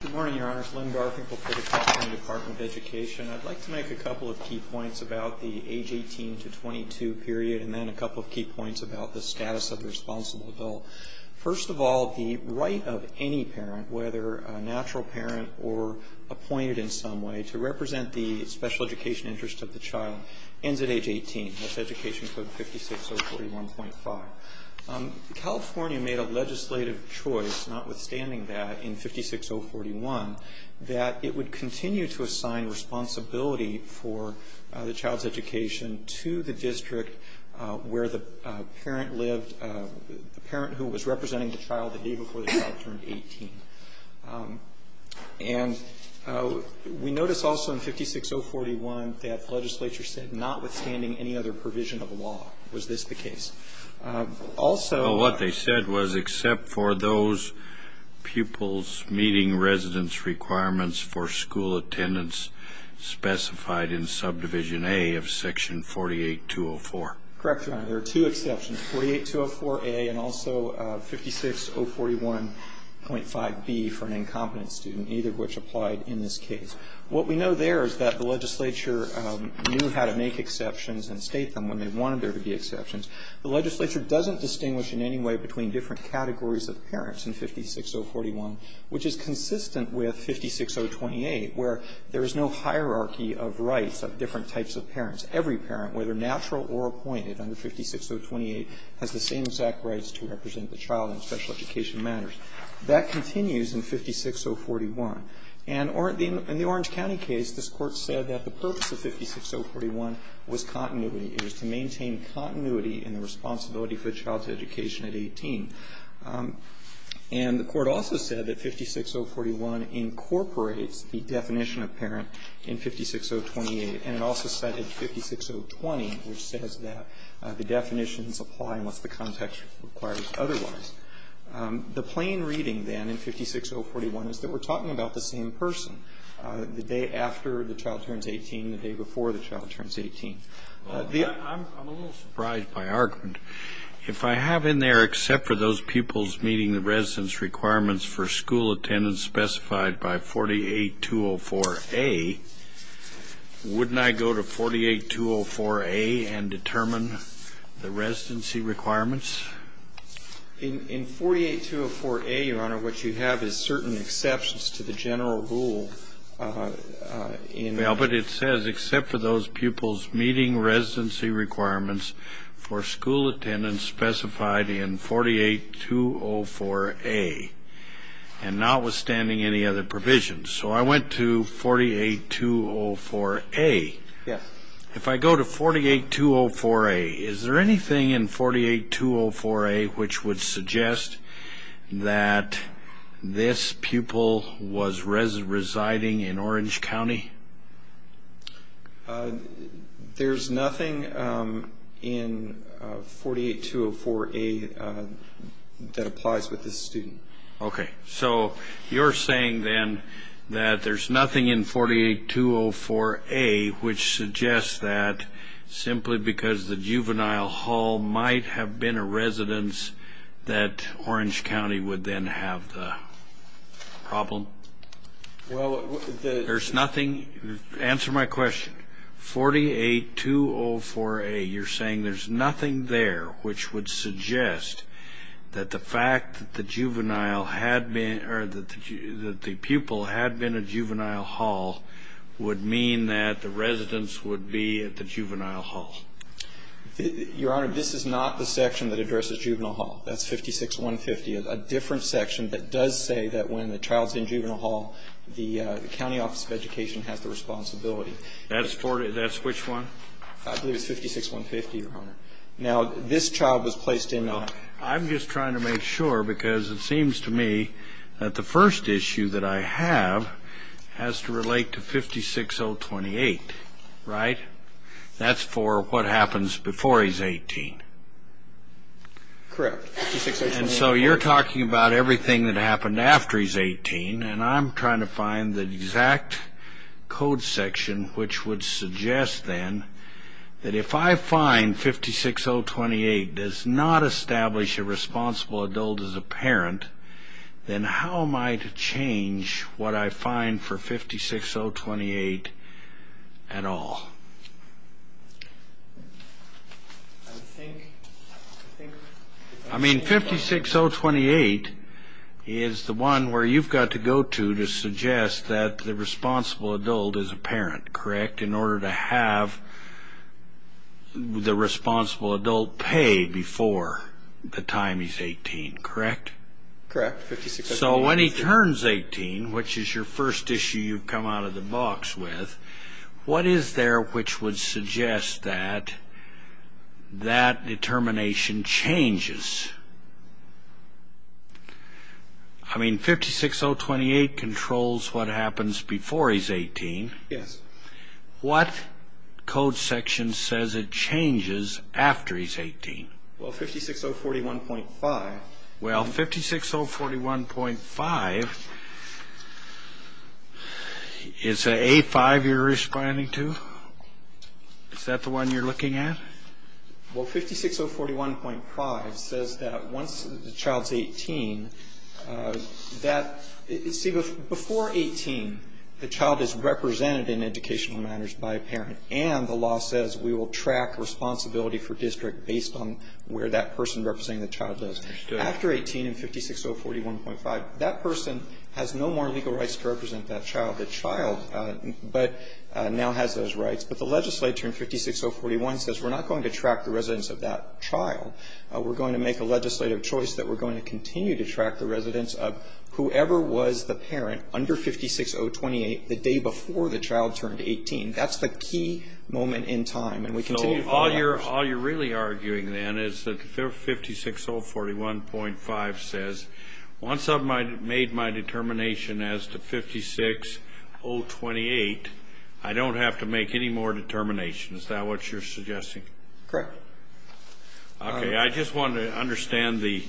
Good morning, Your Honors. Len Garfinkel for the California Department of Education. I'd like to make a couple of key points about the age 18 to 22 period, and then a couple of key points about the status of the responsible adult. First of all, the right of any parent, whether a natural parent or appointed in some way, to represent the special education interest of the child ends at age 18. That's Education Code 56041.5. California made a legislative choice, notwithstanding that, in 56041, that it would continue to assign responsibility for the child's education to the district where the parent lived, the parent who was representing the child the day before the child turned 18. And we notice also in 56041 that the legislature said, notwithstanding any other provision of law, was this the case. Also, what they said was except for those pupils meeting residence requirements for school attendance specified in Subdivision A of Section 48204. Correct, Your Honor. There are two exceptions, 48204A and also 56041.5B for an incompetent student, either of which applied in this case. What we know there is that the legislature knew how to make exceptions and state them when they wanted there to be exceptions. The legislature doesn't distinguish in any way between different categories of parents in 56041, which is consistent with 56028, where there is no hierarchy of rights of different types of parents. Every parent, whether natural or appointed under 56028, has the same exact rights to represent the child in special education matters. That continues in 56041. And in the Orange County case, this Court said that the purpose of 56041 was continuity. It was to maintain continuity in the responsibility for the child's education at 18. And the Court also said that 56041 incorporates the definition of parent in 56028. And it also said in 56020, which says that the definitions apply unless the context requires otherwise. The plain reading, then, in 56041 is that we're talking about the same person, the day after the child turns 18, the day before the child turns 18. I'm a little surprised by argument. If I have in there, except for those pupils meeting the residence requirements for school attendance specified by 48204A, wouldn't I go to 48204A and determine the residency requirements? In 48204A, Your Honor, what you have is certain exceptions to the general rule in the for those pupils meeting residency requirements for school attendance specified in 48204A and notwithstanding any other provisions. So I went to 48204A. If I go to 48204A, is there anything in 48204A which would suggest that this pupil was residing in Orange County? There's nothing in 48204A that applies with this student. Okay. So you're saying, then, that there's nothing in 48204A which suggests that simply because the juvenile hall might have been a residence that Orange County would then have the problem? Well, there's nothing. Answer my question. 48204A, you're saying there's nothing there which would suggest that the fact that the juvenile had been or that the pupil had been at juvenile hall would mean that the residence would be at the juvenile hall. Your Honor, this is not the section that addresses juvenile hall. That's 56150. A different section that does say that when the child's in juvenile hall, the county office of education has the responsibility. That's which one? I believe it's 56150, Your Honor. Now, this child was placed in a... I'm just trying to make sure because it seems to me that the first issue that I have has to relate to 56028, right? That's for what happens before he's 18. Correct. And so you're talking about everything that happened after he's 18, and I'm trying to find the exact code section which would suggest then that if I find 56028 does not establish a responsible adult as a parent, then how am I to change what I find for 56028 at all? I think... I mean, 56028 is the one where you've got to go to to suggest that the responsible adult is a parent, correct, in order to have the responsible adult pay before the time he's 18, correct? Correct. So when he turns 18, which is your first issue you've come out of the box with, what is there which would suggest that that determination changes? I mean, 56028 controls what happens before he's 18. Yes. What code section says it changes after he's 18? Well, 56041.5. Well, 56041.5, is it A5 you're responding to? Is that the one you're looking at? Well, 56041.5 says that once the child's 18, that... See, before 18, the child is represented in educational matters by a parent, and the law says we will track responsibility for district based on where that person representing the child is. After 18, in 56041.5, that person has no more legal rights to represent that child. The child now has those rights, but the legislature in 56041 says we're not going to track the residence of that child. We're going to make a legislative choice that we're going to continue to track the residence of whoever was the parent under 56028 the day before the child turned 18. That's the key moment in time, and we continue... All you're really arguing, then, is that 56041.5 says once I've made my determination as to 56028, I don't have to make any more determinations. Is that what you're suggesting? Correct. Okay. I just wanted to understand the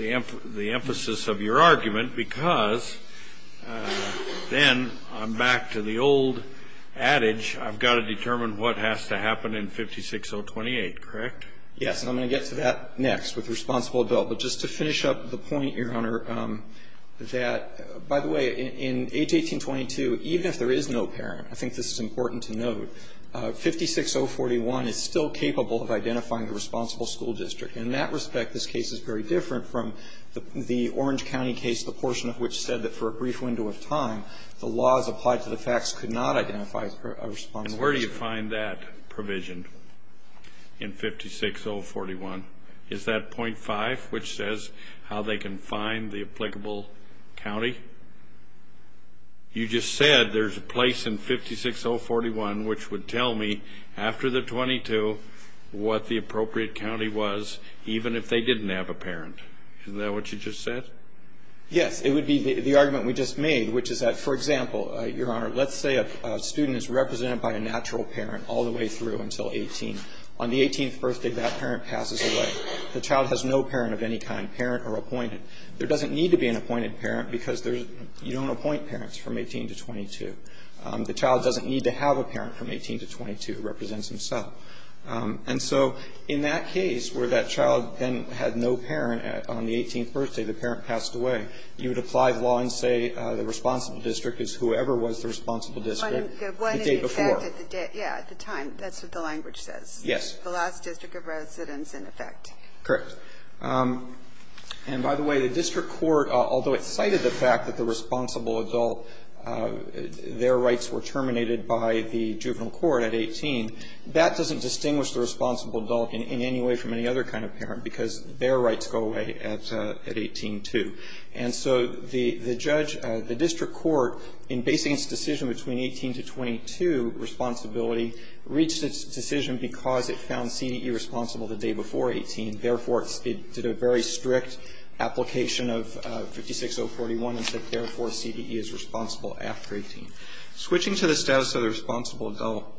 emphasis of your argument, because then I'm back to the old adage, I've got to determine what has to happen in 56028, correct? Yes. And I'm going to get to that next with responsible adult. But just to finish up the point, Your Honor, that, by the way, in H. 1822, even if there is no parent, I think this is important to note, 56041 is still capable of identifying the responsible school district. In that respect, this case is very different from the Orange County case, the portion of which said that for a brief window of time, the laws applied to the facts could not identify a responsible district. And where do you find that provision in 56041? Is that .5, which says how they can find the applicable county? You just said there's a place in 56041 which would tell me, after the 22, what the appropriate county was, even if they didn't have a parent. Isn't that what you just said? Yes. It would be the argument we just made, which is that, for example, Your Honor, let's say a student is represented by a natural parent all the way through until 18. On the 18th birthday, that parent passes away. The child has no parent of any kind, parent or appointed. There doesn't need to be an appointed parent because there's you don't appoint parents from 18 to 22. The child doesn't need to have a parent from 18 to 22 who represents himself. And so in that case, where that child then had no parent on the 18th birthday, the parent passed away, you would apply the law and say the responsible district is whoever was the responsible district the day before. The one in effect at the day, yeah, at the time. That's what the language says. Yes. The last district of residence in effect. Correct. And by the way, the district court, although it cited the fact that the responsible adult, their rights were terminated by the juvenile court at 18, that doesn't distinguish the responsible adult in any way from any other kind of parent because their rights go away at 18, too. And so the judge, the district court, in basing its decision between 18 to 22 responsibility, reached its decision because it found CDE responsible the day before 18. Therefore, it did a very strict application of 56041 and said, therefore, CDE is responsible after 18. Switching to the status of the responsible adult,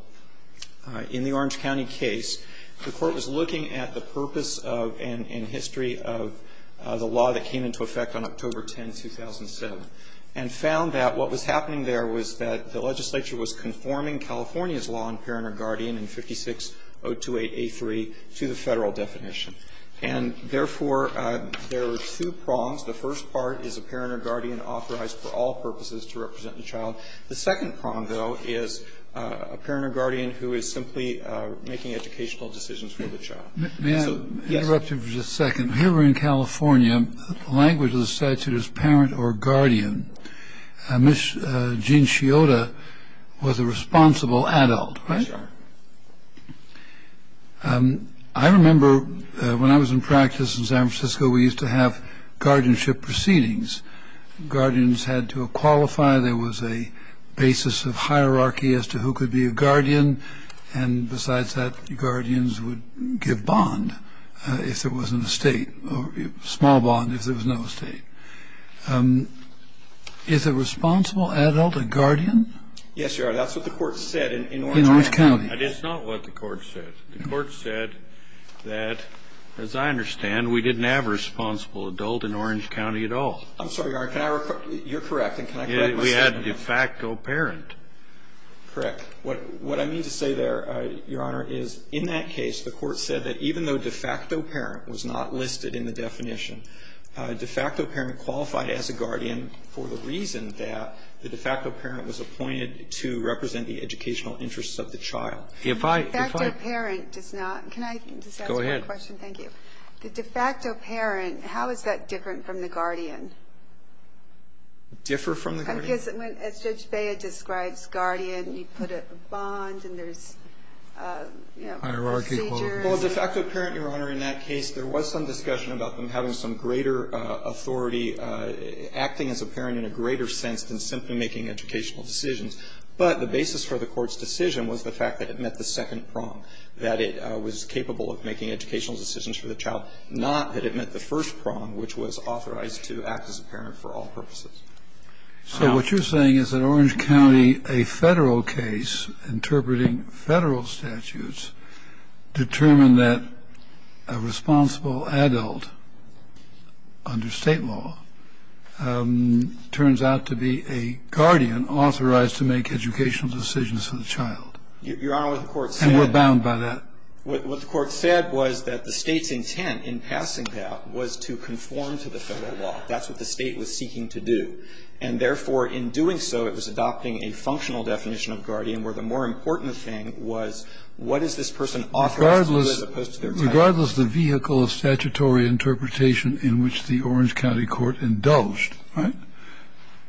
in the Orange County case, the court was looking at the purpose and history of the law that came into effect on October 10, 2007, and found that what was happening there was that the legislature was conforming California's law on parent or guardian in 56028A3 to the Federal definition. And, therefore, there were two prongs. The first part is a parent or guardian authorized for all purposes to represent the child. The second prong, though, is a parent or guardian who is simply making educational decisions for the child. May I interrupt you for just a second? Here we're in California. The language of the statute is parent or guardian. Gene Sciotta was a responsible adult, right? That's right. I remember when I was in practice in San Francisco, we used to have guardianship proceedings. Guardians had to qualify. There was a basis of hierarchy as to who could be a guardian. And, besides that, guardians would give bond if there was an estate, small bond if there was no estate. Is a responsible adult a guardian? Yes, Your Honor. That's what the court said in Orange County. It's not what the court said. The court said that, as I understand, we didn't have a responsible adult in Orange County at all. I'm sorry, Your Honor. You're correct. And can I correct myself? We had a de facto parent. Correct. What I mean to say there, Your Honor, is in that case, the court said that even though de facto parent was not listed in the definition, de facto parent qualified as a guardian for the reason that the de facto parent was appointed to represent the educational interests of the child. If I ---- The de facto parent does not. Can I just ask one question? Go ahead. Thank you. The de facto parent, how is that different from the guardian? Differ from the guardian? Well, I guess as Judge Bea describes guardian, you put a bond and there's, you know, procedures. Hierarchy. Well, the de facto parent, Your Honor, in that case, there was some discussion about them having some greater authority acting as a parent in a greater sense than simply making educational decisions. But the basis for the court's decision was the fact that it met the second prong, that it was capable of making educational decisions for the child, not that it met the first prong, which was authorized to act as a parent for all purposes. So what you're saying is that Orange County, a Federal case interpreting Federal statutes, determined that a responsible adult under State law turns out to be a guardian authorized to make educational decisions for the child. Your Honor, what the court said ---- And we're bound by that. What the court said was that the State's intent in passing that was to conform to the Federal law. That's what the State was seeking to do. And, therefore, in doing so, it was adopting a functional definition of guardian where the more important thing was what is this person authorized to do as opposed to their child. Regardless of the vehicle of statutory interpretation in which the Orange County court indulged, right,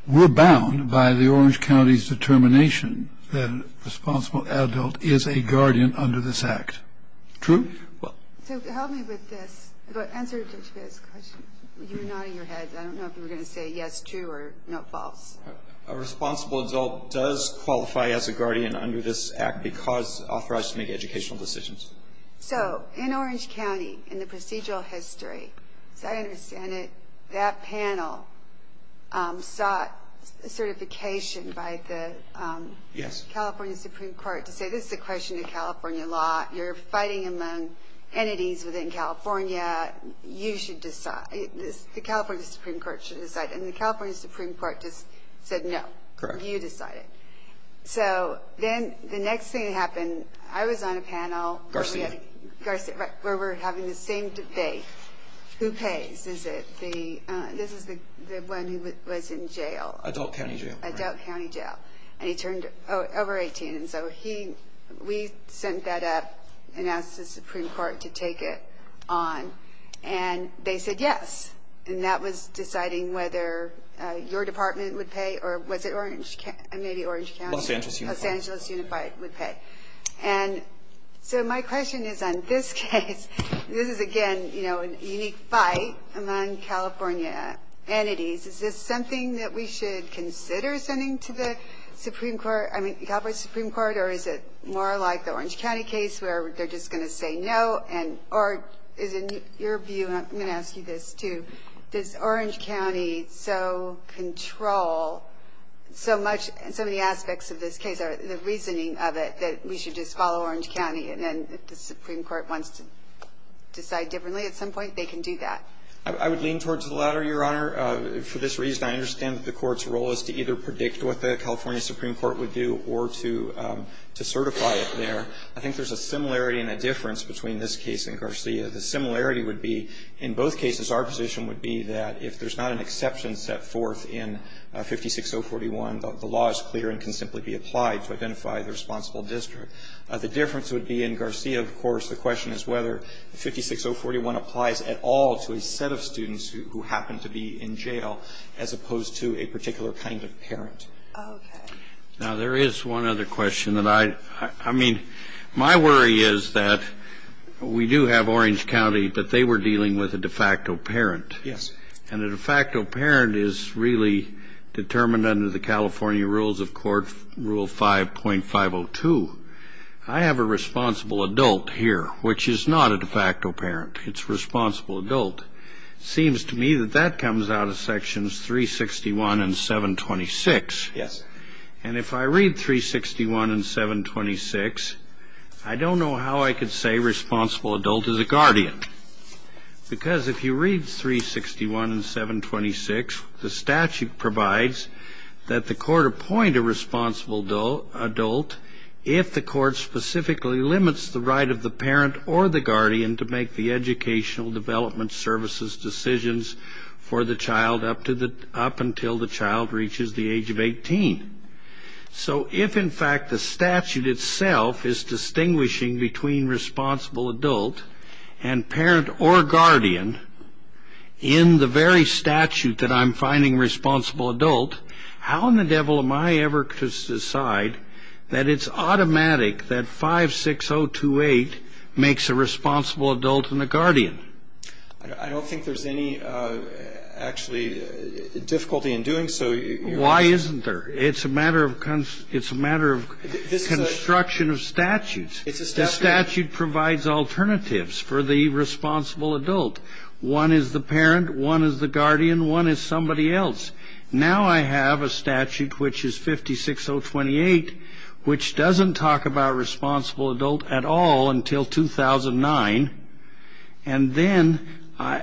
we're bound by the Orange County's determination that a responsible adult is a guardian under this Act. True? So help me with this. Answer Judge Bates' question. You're nodding your head. I don't know if you were going to say yes, true, or no, false. A responsible adult does qualify as a guardian under this Act because it's authorized to make educational decisions. So in Orange County, in the procedural history, as I understand it, that panel sought certification by the California Supreme Court to say this is a question of California law. You're fighting among entities within California. You should decide. The California Supreme Court should decide. And the California Supreme Court just said no. Correct. You decide it. So then the next thing that happened, I was on a panel. Garcia. Garcia, right, where we're having the same debate. Who pays? Is it the, this is the one who was in jail. Adult County Jail. Adult County Jail. And he turned over 18. And so he, we sent that up and asked the Supreme Court to take it on. And they said yes. And that was deciding whether your department would pay or was it Orange, maybe Orange County. Los Angeles Unified. Los Angeles Unified would pay. And so my question is on this case, this is, again, you know, a unique fight among California entities. Is this something that we should consider sending to the Supreme Court, I mean, the California Supreme Court, or is it more like the Orange County case where they're just going to say no and, or is it your view, I'm going to ask you this too, does Orange County so control so much, so many aspects of this case, the reasoning of it, that we should just follow Orange County and then if the Supreme Court wants to decide differently at some point, they can do that? I would lean towards the latter, Your Honor. For this reason, I understand that the court's role is to either predict what the California Supreme Court would do or to certify it there. I think there's a similarity and a difference between this case and Garcia. The similarity would be, in both cases, our position would be that if there's not an exception set forth in 56041, the law is clear and can simply be applied to identify the responsible district. The difference would be in Garcia, of course, the question is whether 56041 applies at all to a set of students who happen to be in jail as opposed to a particular kind of parent. Okay. Now, there is one other question that I, I mean, my worry is that we do have Orange County, but they were dealing with a de facto parent. Yes. And a de facto parent is really determined under the California Rules of Court, Rule 5.502. I have a responsible adult here, which is not a de facto parent. It's a responsible adult. It seems to me that that comes out of Sections 361 and 726. Yes. And if I read 361 and 726, I don't know how I could say responsible adult is a guardian, because if you read 361 and 726, the statute provides that the court appoint a responsible adult if the court specifically limits the right of the parent or the guardian to make the educational development services decisions for the child up to the, up until the child reaches the age of 18. So if, in fact, the statute itself is distinguishing between responsible adult and parent or guardian in the very statute that I'm finding responsible adult, how in the devil am I ever to decide that it's automatic that 56028 makes a responsible adult and a guardian? I don't think there's any, actually, difficulty in doing so. Why isn't there? It's a matter of construction of statutes. It's a statute. The statute provides alternatives for the responsible adult. One is the parent. One is the guardian. One is somebody else. Now I have a statute, which is 56028, which doesn't talk about responsible adult at all until 2009. And then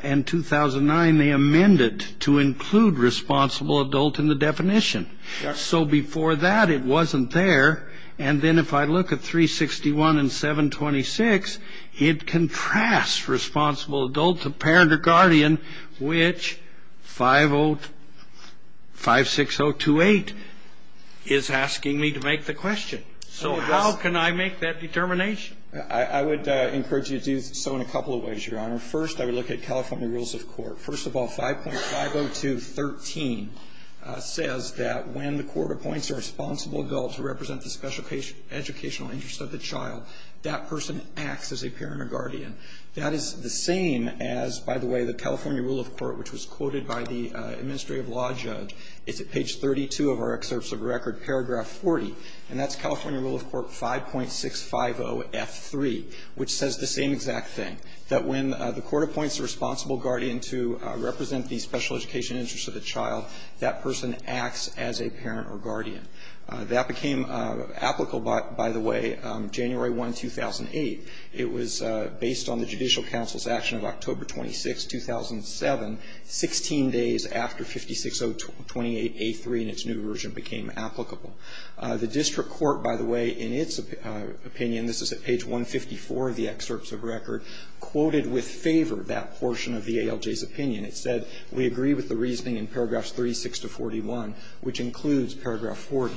in 2009, they amended to include responsible adult in the definition. So before that, it wasn't there. And then if I look at 361 and 726, it contrasts responsible adult to parent or guardian, which 56028 is asking me to make the question. So how can I make that determination? I would encourage you to do so in a couple of ways, Your Honor. First, I would look at California rules of court. First of all, 5.50213 says that when the court appoints a responsible adult to represent the special educational interest of the child, that person acts as a parent or guardian. That is the same as, by the way, the California rule of court, which was quoted by the administrative law judge. It's at page 32 of our excerpts of record, paragraph 40. And that's California rule of court 5.650F3, which says the same exact thing, that when the court appoints a responsible guardian to represent the special educational interest of the child, that person acts as a parent or guardian. That became applicable, by the way, January 1, 2008. It was based on the Judicial Council's action of October 26, 2007, 16 days after 56028A3 and its new version became applicable. The district court, by the way, in its opinion, this is at page 154 of the excerpts of record, quoted with favor that portion of the ALJ's opinion. It said we agree with the reasoning in paragraphs 36 to 41, which includes paragraph 40.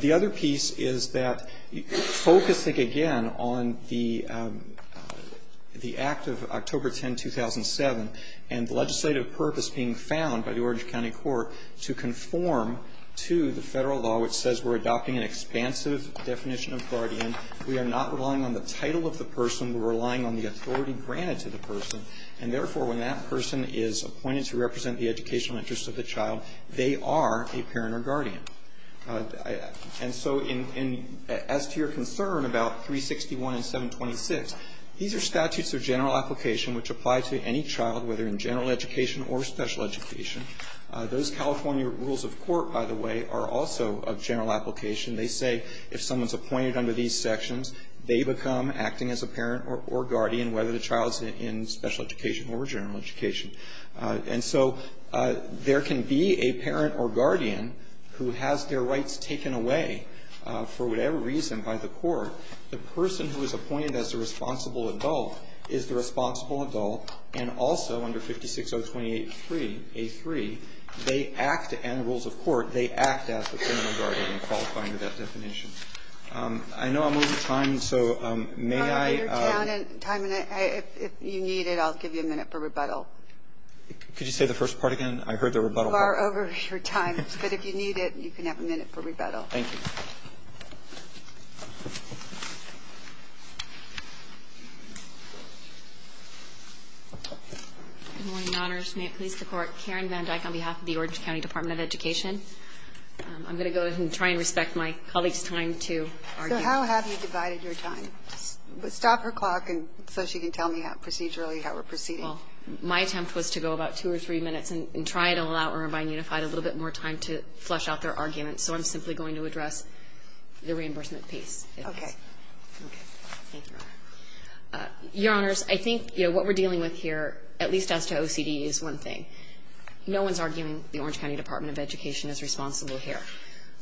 The other piece is that focusing again on the act of October 10, 2007 and the legislative purpose being found by the Orange County Court to conform to the Federal law, which says we're adopting an expansive definition of guardian, we are not relying on the title of the person, we're relying on the authority granted to the person, and therefore, when that person is appointed to represent the educational interest of the child, they are a parent or guardian. And so in as to your concern about 361 and 726, these are statutes of general application which apply to any child, whether in general education or special education. Those California rules of court, by the way, are also of general application. They say if someone's appointed under these sections, they become acting as a parent or guardian, whether the child's in special education or general education. And so there can be a parent or guardian who has their rights taken away for whatever reason by the court. The person who is appointed as the responsible adult is the responsible adult, and also under 56028a3, they act, and rules of court, they act as the parental guardian in qualifying with that definition. I know I'm over time, so may I? If you need it, I'll give you a minute for rebuttal. Could you say the first part again? I heard the rebuttal. You are over your time, but if you need it, you can have a minute for rebuttal. Thank you. Good morning, Your Honors. May it please the Court. Karen Van Dyck on behalf of the Orange County Department of Education. I'm going to go ahead and try and respect my colleague's time to argue. So how have you divided your time? Stop her clock so she can tell me procedurally how we're proceeding. Well, my attempt was to go about two or three minutes and try to allow Irvine Unified a little bit more time to flush out their arguments, so I'm simply going to address the reimbursement piece. Okay. Okay. Thank you, Your Honor. Your Honors, I think what we're dealing with here, at least as to OCD, is one thing. No one's arguing the Orange County Department of Education is responsible here.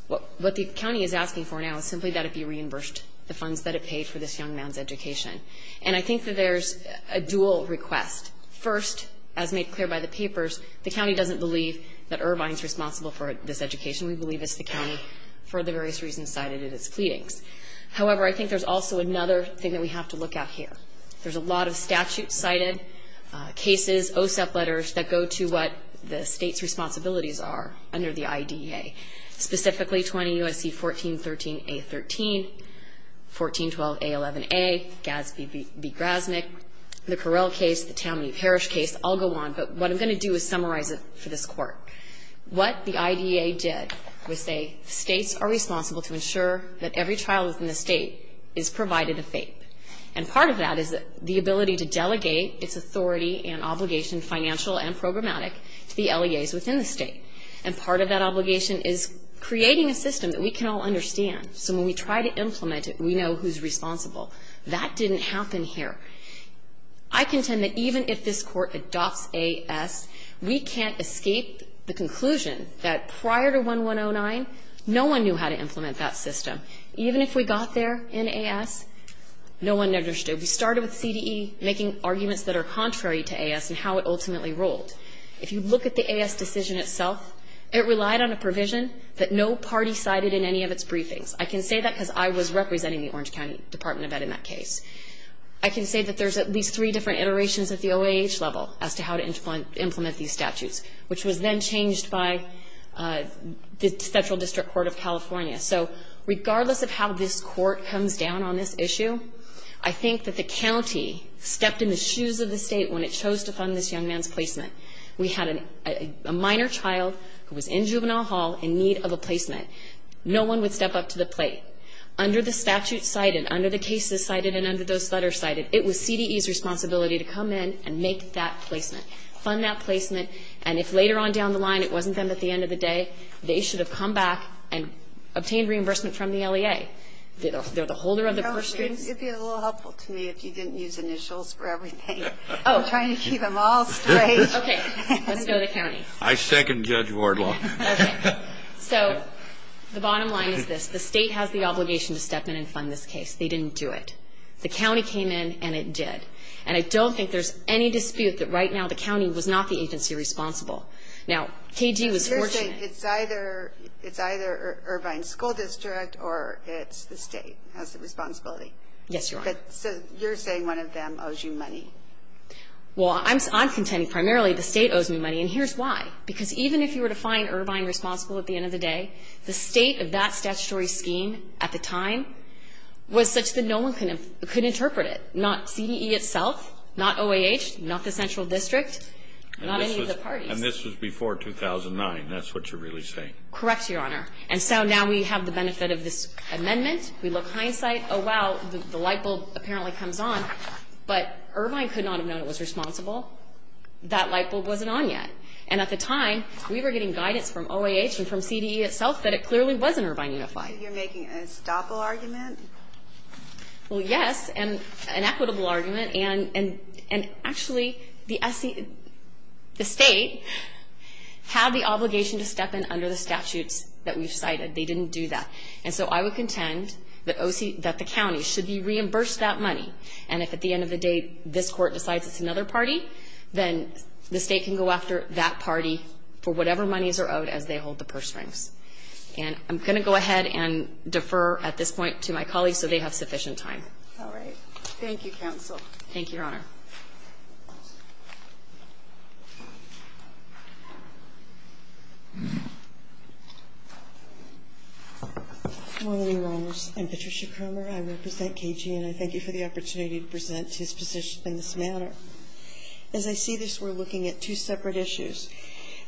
What the county is asking for now is simply that it be reimbursed the funds that it paid for this young man's education. And I think that there's a dual request. First, as made clear by the papers, the county doesn't believe that Irvine's responsible for this education. We believe it's the county, for the various reasons cited in its pleadings. However, I think there's also another thing that we have to look at here. There's a lot of statute-cited cases, OSEP letters, that go to what the state's responsibilities are under the IDEA, specifically 20 U.S.C. 1413A.13, 1412A.11a, Gadsby v. Grasnick, the Correll case, the Tammany Parish case. I'll go on, but what I'm going to do is summarize it for this Court. What the IDEA did was say the states are responsible to ensure that every child within the state is provided a FAPE. And part of that is the ability to delegate its authority and obligation, financial and programmatic, to the LEAs within the state. And part of that obligation is creating a system that we can all understand, so when we try to implement it, we know who's responsible. That didn't happen here. I contend that even if this Court adopts AS, we can't escape the conclusion that prior to 1109, no one knew how to implement that system. Even if we got there in AS, no one understood. We started with CDE making arguments that are contrary to AS and how it ultimately rolled. If you look at the AS decision itself, it relied on a provision that no party cited in any of its briefings. I can say that because I was representing the Orange County Department of Ed in that case. I can say that there's at least three different iterations at the OAH level as to how to implement these statutes, which was then changed by the Central District Court of California. So regardless of how this Court comes down on this issue, I think that the county stepped in the shoes of the state when it chose to fund this young man's placement. We had a minor child who was in juvenile hall in need of a placement. No one would step up to the plate. Under the statute cited, under the cases cited, and under those letters cited, it was CDE's responsibility to come in and make that placement, fund that placement, and if later on down the line it wasn't them at the end of the day, they should have come back and obtained reimbursement from the LEA. They're the holder of the proceeds. It would be a little helpful to me if you didn't use initials for everything. I'm trying to keep them all straight. Okay. Let's go to the county. I second Judge Wardlaw. Okay. So the bottom line is this. The state has the obligation to step in and fund this case. They didn't do it. The county came in and it did. And I don't think there's any dispute that right now the county was not the agency responsible. Now, KG was fortunate. You're saying it's either Irvine School District or it's the state has the responsibility. Yes, Your Honor. So you're saying one of them owes you money. Well, I'm contending primarily the state owes me money, and here's why. Because even if you were to find Irvine responsible at the end of the day, the state of that statutory scheme at the time was such that no one could interpret it, not CDE itself, not OAH, not the central district, not any of the parties. And this was before 2009. That's what you're really saying. Correct, Your Honor. And so now we have the benefit of this amendment. We look hindsight. Oh, wow, the lightbulb apparently comes on. But Irvine could not have known it was responsible. That lightbulb wasn't on yet. And at the time, we were getting guidance from OAH and from CDE itself that it clearly wasn't Irvine Unified. You're making an estoppel argument? Well, yes, and an equitable argument. And actually, the state had the obligation to step in under the statutes that we've cited. They didn't do that. And so I would contend that the county should be reimbursed that money. And if at the end of the day this court decides it's another party, then the state can go after that party for whatever monies are owed as they hold the purse rings. And I'm going to go ahead and defer at this point to my colleagues so they have sufficient time. All right. Thank you, counsel. Thank you, Your Honor. I'm Patricia Kramer. I represent KG, and I thank you for the opportunity to present his position in this manner. As I see this, we're looking at two separate issues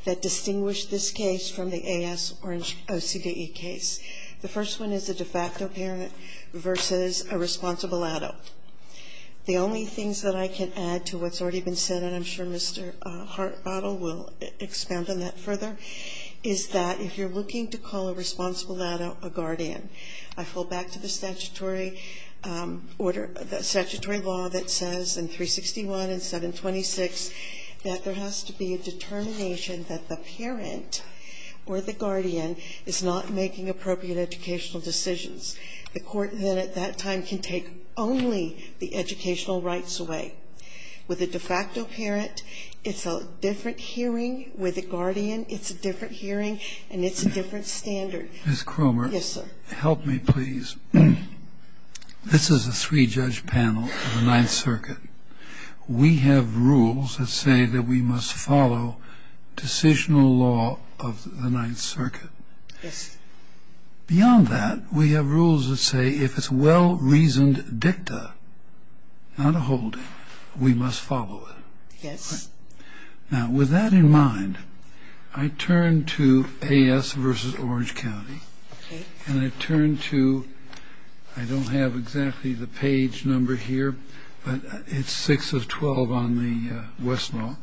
that distinguish this case from the AS or OCDE case. The first one is a de facto parent versus a responsible adult. The only things that I can add to what's already been said, and I'm sure Mr. Hartbottom will expand on that further, is that if you're looking to call a responsible adult a guardian, I fall back to the statutory order, the statutory law that says in 361 and 726 that there are no appropriate educational decisions. The court then at that time can take only the educational rights away. With a de facto parent, it's a different hearing. With a guardian, it's a different hearing and it's a different standard. Ms. Kramer. Yes, sir. Help me, please. This is a three-judge panel of the Ninth Circuit. We have rules that say that we must follow decisional law of the Ninth Circuit. Yes. Beyond that, we have rules that say if it's a well-reasoned dicta, not a holding, we must follow it. Yes. Now, with that in mind, I turn to AS versus Orange County. Okay. And I turn to, I don't have exactly the page number here, but it's 6 of 12 on the Westlaw.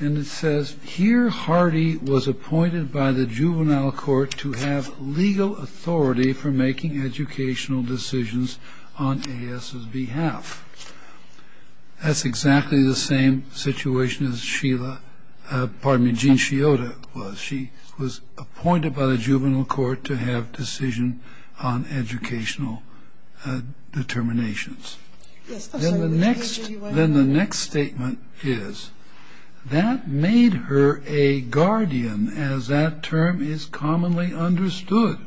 And it says, here Hardy was appointed by the juvenile court to have legal authority for making educational decisions on AS's behalf. That's exactly the same situation as Sheila, pardon me, Jean Sciotta was. She was appointed by the juvenile court to have decision on educational determinations. Then the next statement is, that made her a guardian as that term is commonly understood.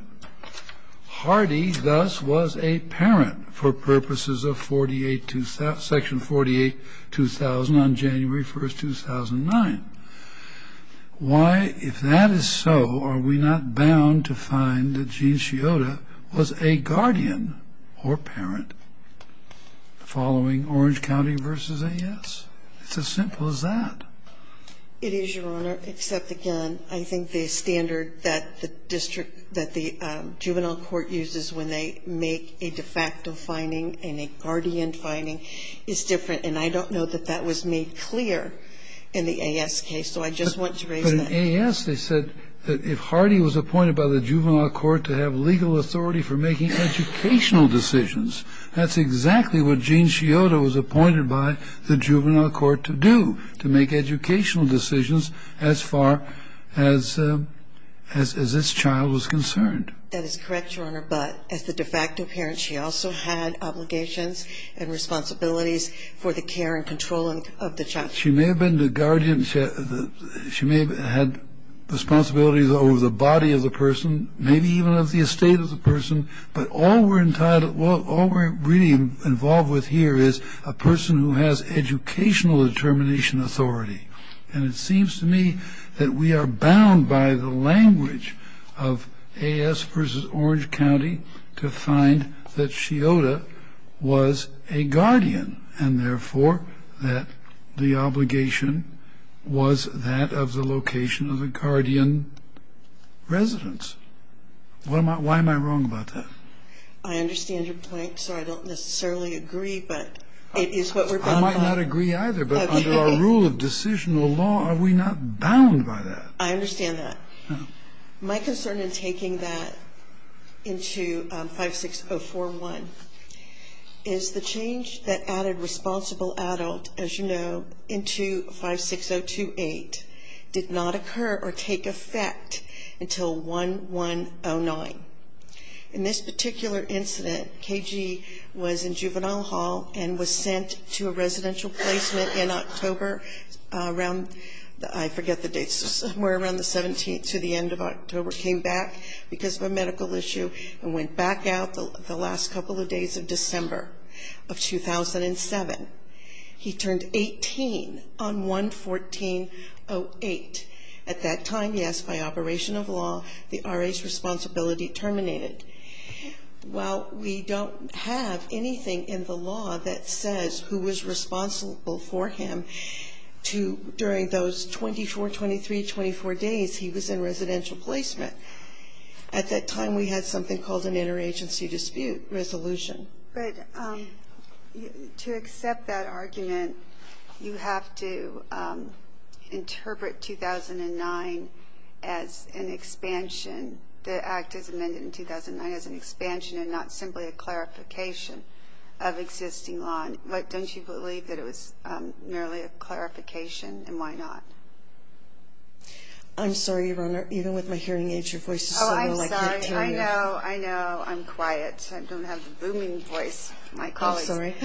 Hardy, thus, was a parent for purposes of section 48-2000 on January 1st, 2009. Why, if that is so, are we not bound to find that Jean Sciotta was a guardian or parent following Orange County versus AS? It's as simple as that. It is, Your Honor, except, again, I think the standard that the district, that the juvenile court uses when they make a de facto finding and a guardian finding is different. And I don't know that that was made clear in the AS case, so I just want to raise that. But in AS they said that if Hardy was appointed by the juvenile court to have legal authority for making educational decisions, that's exactly what Jean Sciotta was appointed by the juvenile court to do, to make educational decisions as far as this child was concerned. That is correct, Your Honor. But as the de facto parent, she also had obligations and responsibilities for the care and control of the child. She may have been the guardian. She may have had responsibilities over the body of the person, maybe even of the estate of the person. But all we're really involved with here is a person who has educational determination authority. And it seems to me that we are bound by the language of AS versus Orange County to find that Sciotta was a guardian and, therefore, that the obligation was that of the location of the guardian residence. Why am I wrong about that? I understand your point, sir. I don't necessarily agree, but it is what we're talking about. I might not agree either, but under our rule of decisional law, are we not bound by that? I understand that. My concern in taking that into 56041 is the change that added responsible adult, as you know, into 56028 did not occur or take effect until 1109. In this particular incident, KG was in Juvenile Hall and was sent to a residential placement in October around, I forget the date, somewhere around the 17th to the end of October, came back because of a medical issue and went back out the last couple of days of December of 2007. He turned 18 on 11408. At that time, yes, by operation of law, the RA's responsibility terminated. While we don't have anything in the law that says who was responsible for him during those 24, 23, 24 days, he was in residential placement. At that time, we had something called an interagency dispute resolution. But to accept that argument, you have to interpret 2009 as an expansion. The act is amended in 2009 as an expansion and not simply a clarification of existing law. But don't you believe that it was merely a clarification, and why not? I'm sorry, Your Honor. Even with my hearing aids, your voice is suddenly like bacteria. Oh, I'm sorry. I know. I know. I'm quiet. I don't have the booming voice of my colleagues. I'm sorry.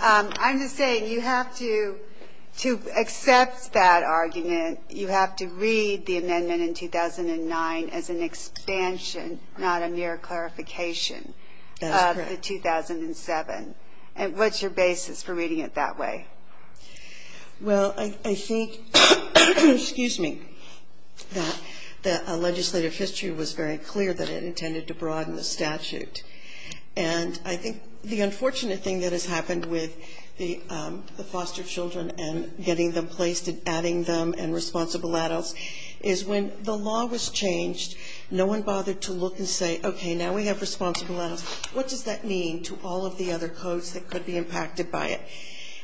I'm just saying you have to, to accept that argument, you have to read the amendment in 2009 as an expansion, not a mere clarification of the 2007. That's correct. And what's your basis for reading it that way? Well, I think that legislative history was very clear that it intended to broaden the statute. And I think the unfortunate thing that has happened with the foster children and getting them placed and adding them and responsible adults is when the law was changed, no one bothered to look and say, okay, now we have responsible adults. What does that mean to all of the other codes that could be impacted by it?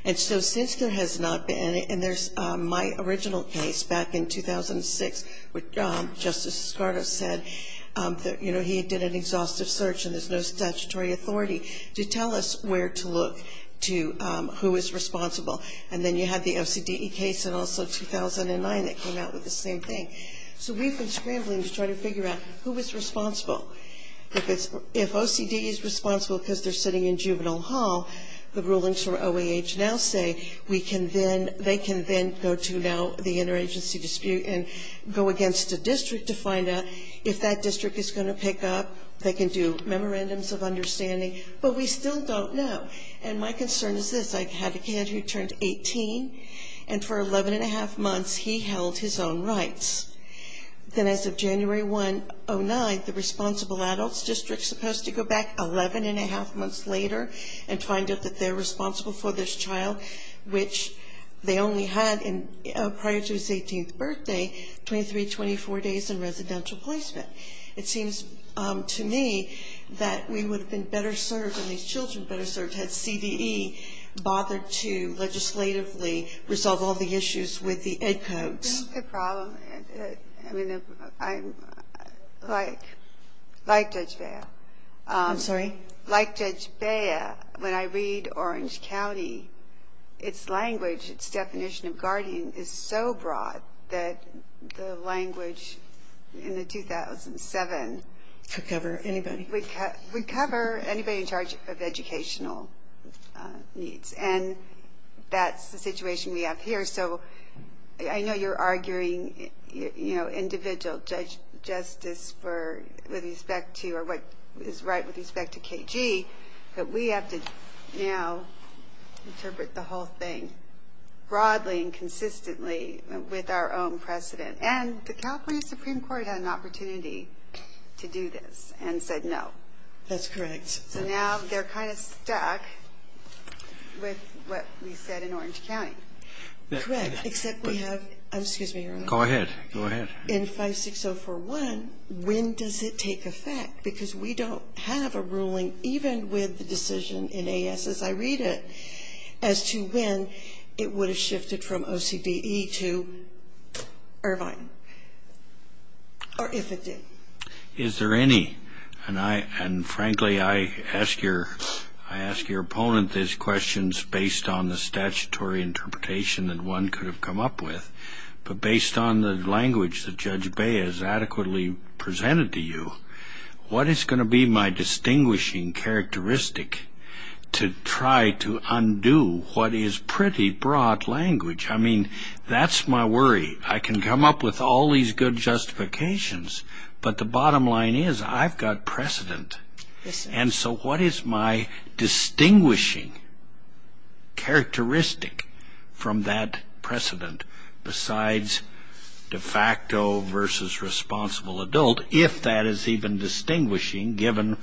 And so since there has not been, and there's my original case back in 2006, which Justice Escardo said that, you know, he did an exhaustive search and there's no statutory authority to tell us where to look to who is responsible. And then you had the OCDE case in also 2009 that came out with the same thing. So we've been scrambling to try to figure out who is responsible. If OCDE is responsible because they're sitting in juvenile hall, the rulings for OAH now say they can then go to now the interagency dispute and go against a district to find out if that district is going to pick up. They can do memorandums of understanding. But we still don't know. And my concern is this. I had a kid who turned 18, and for 11 1⁄2 months he held his own rights. Then as of January 1, 2009, the responsible adults district is supposed to go back 11 1⁄2 months later and find out that they're responsible for this child, which they only had prior to his 18th birthday 23-24 days in residential placement. It seems to me that we would have been better served, and these children better served, had CDE bothered to legislatively resolve all the issues with the ED codes. That's the problem. I mean, like Judge Bea. I'm sorry? Like Judge Bea, when I read Orange County, its language, its definition of guardian is so broad that the language in the 2007. Could cover anybody. Would cover anybody in charge of educational needs. And that's the situation we have here. So I know you're arguing, you know, individual justice with respect to, or what is right with respect to KG. But we have to now interpret the whole thing broadly and consistently with our own precedent. And the California Supreme Court had an opportunity to do this and said no. That's correct. So now they're kind of stuck with what we said in Orange County. Correct. Except we have, excuse me. Go ahead. In 56041, when does it take effect? Because we don't have a ruling, even with the decision in AS as I read it, as to when it would have shifted from OCDE to Irvine. Or if it did. Is there any? And, frankly, I ask your opponent these questions based on the statutory interpretation that one could have come up with. But based on the language that Judge Bay has adequately presented to you, what is going to be my distinguishing characteristic to try to undo what is pretty broad language? I mean, that's my worry. I can come up with all these good justifications. But the bottom line is I've got precedent. And so what is my distinguishing characteristic from that precedent, besides de facto versus responsible adult, if that is even distinguishing given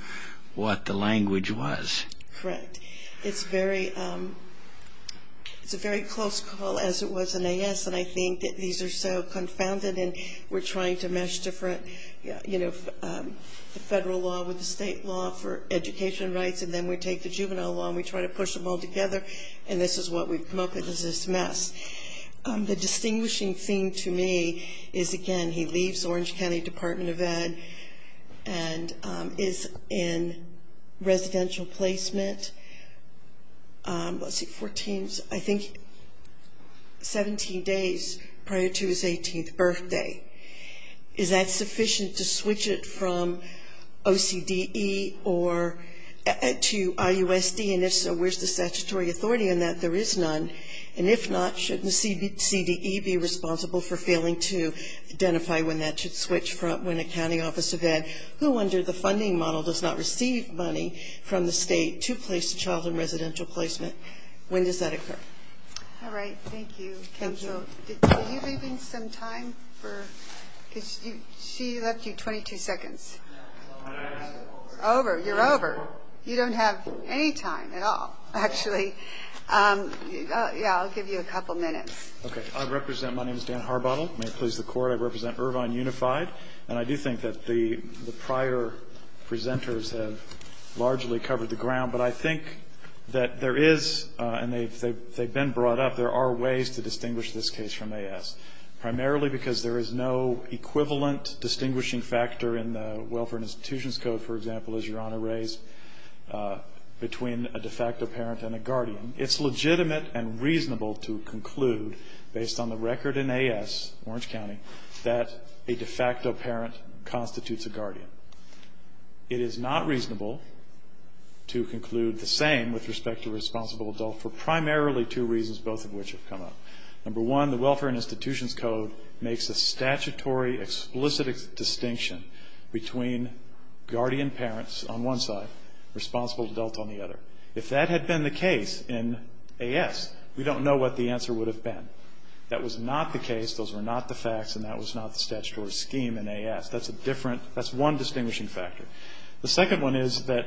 what the language was? Correct. It's a very close call, as it was in AS, and I think that these are so confounded, and we're trying to mesh different federal law with the state law for education rights, and then we take the juvenile law and we try to push them all together, and this is what we've come up with is this mess. The distinguishing thing to me is, again, he leaves Orange County Department of Ed and is in residential placement. Was he 14? I think 17 days prior to his 18th birthday. Is that sufficient to switch it from OCDE to IUSD? And if so, where's the statutory authority on that? There is none. And if not, shouldn't the CDE be responsible for failing to identify when that should switch from an accounting office of Ed? Who wondered the funding model does not receive money from the state to place a child in residential placement? When does that occur? All right. Thank you. Are you leaving some time? She left you 22 seconds. You're over. You don't have any time at all, actually. Yeah, I'll give you a couple minutes. Okay. My name is Dan Harbottle. May it please the Court, I represent Irvine Unified, and I do think that the prior presenters have largely covered the ground, but I think that there is, and they've been brought up, there are ways to distinguish this case from AS, primarily because there is no equivalent distinguishing factor in the Welfare and Institutions Code, for example, as Your Honor raised between a de facto parent and a guardian. It's legitimate and reasonable to conclude, based on the record in AS, Orange de facto parent constitutes a guardian. It is not reasonable to conclude the same with respect to responsible adult for primarily two reasons, both of which have come up. Number one, the Welfare and Institutions Code makes a statutory explicit distinction between guardian parents on one side, responsible adult on the other. If that had been the case in AS, we don't know what the answer would have been. That was not the case. Those were not the facts, and that was not the statutory scheme in AS. That's a different, that's one distinguishing factor. The second one is that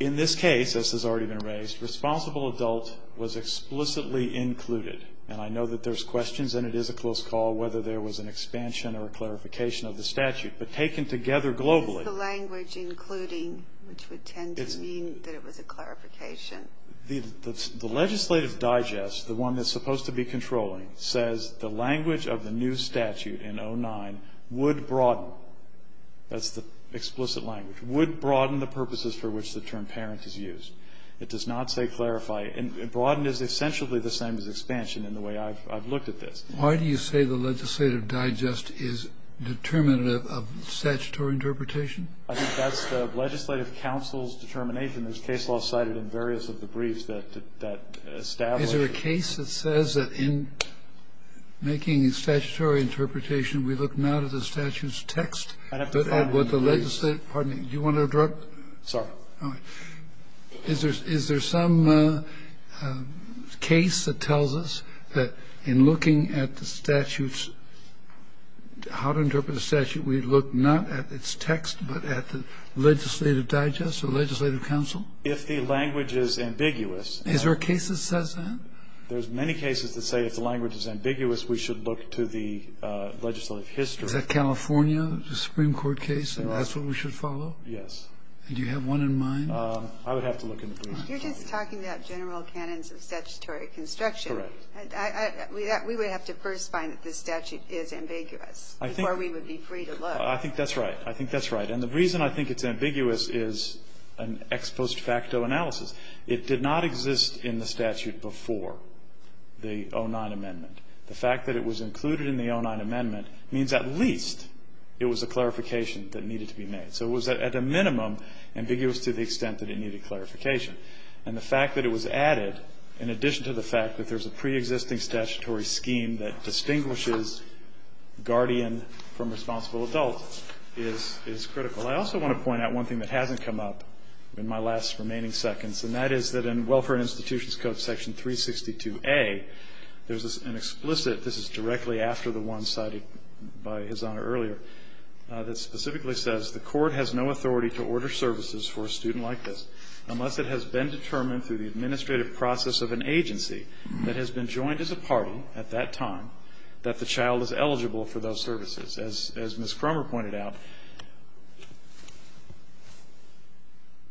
in this case, as has already been raised, responsible adult was explicitly included. And I know that there's questions, and it is a close call, whether there was an expansion or a clarification of the statute. But taken together globally. Ginsburg. Is the language including, which would tend to mean that it was a clarification? The legislative digest, the one that's supposed to be controlling, says the language of the new statute in 09 would broaden. That's the explicit language. Would broaden the purposes for which the term parent is used. It does not say clarify. And broaden is essentially the same as expansion in the way I've looked at this. Why do you say the legislative digest is determinative of statutory interpretation? I think that's the legislative counsel's determination. There's case law cited in various of the briefs that establish. Is there a case that says that in making a statutory interpretation, we look not at the statute's text, but at what the legislative. Pardon me. Do you want to interrupt? Sorry. Is there some case that tells us that in looking at the statute's, how to interpret the statute, we look not at its text, but at the legislative digest or legislative counsel? If the language is ambiguous. Is there a case that says that? There's many cases that say if the language is ambiguous, we should look to the legislative history. Is that California, the Supreme Court case, and that's what we should follow? Yes. And do you have one in mind? I would have to look into that. You're just talking about general canons of statutory construction. Correct. We would have to first find that the statute is ambiguous before we would be free to look. I think that's right. I think that's right. And the reason I think it's ambiguous is an ex post facto analysis. It did not exist in the statute before the 09 Amendment. The fact that it was included in the 09 Amendment means at least it was a clarification that needed to be made. So it was at a minimum ambiguous to the extent that it needed clarification. And the fact that it was added, in addition to the fact that there's a preexisting statutory scheme that distinguishes guardian from responsible adult, is critical. I also want to point out one thing that hasn't come up in my last remaining seconds, and that is that in Welfare and Institutions Code section 362A, there's an explicit, this is directly after the one cited by His Honor earlier, that specifically says the court has no authority to order services for a student like this unless it has been determined through the administrative process of an agency that has been joined as a party at that time that the child is eligible for those services. As Ms. Cromer pointed out,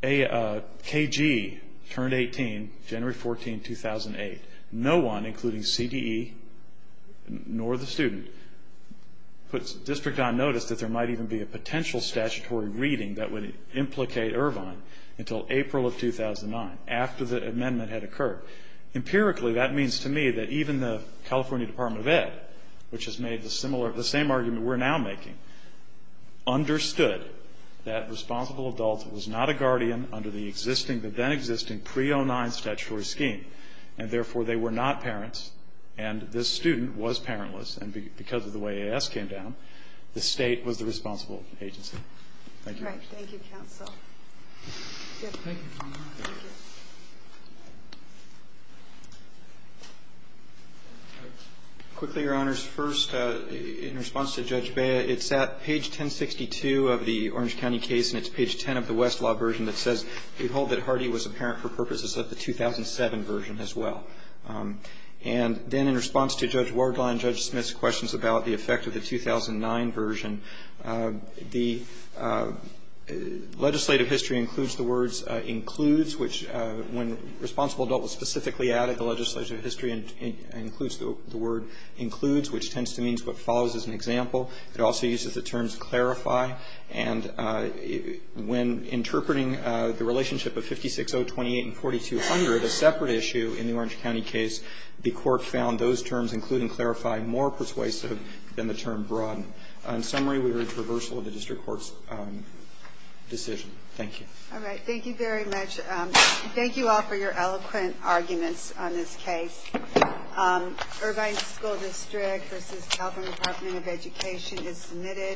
KG turned 18 January 14, 2008. No one, including CDE nor the student, puts district on notice that there might even be a potential statutory reading that would implicate Irvine until April of 2009, after the amendment had occurred. Empirically, that means to me that even the California Department of Ed, which has made the similar, the same argument we're now making, understood that responsible adult was not a guardian under the existing, the then existing pre-09 statutory scheme, and therefore they were not parents, and this student was parentless. And because of the way AS came down, the state was the responsible agency. Thank you. All right. Thank you, counsel. Thank you. Quickly, Your Honors. First, in response to Judge Bea, it's at page 1062 of the Orange County case, and it's page 10 of the Westlaw version that says, Behold, that Hardy was a parent for purposes of the 2007 version as well. And then in response to Judge Wardline and Judge Smith's questions about the effect of the 2009 version, the legislative history includes the words includes, which when responsible adult was specifically added, the legislative history includes the word includes, which tends to mean what follows as an example. It also uses the terms clarify. And when interpreting the relationship of 560, 28, and 4200, a separate issue in the Orange County case, the court found those terms, including clarify, more persuasive than the term broaden. In summary, we urge reversal of the district court's decision. Thank you. All right. Thank you very much. Thank you all for your eloquent arguments on this case. Irvine School District v. California Department of Education is submitted.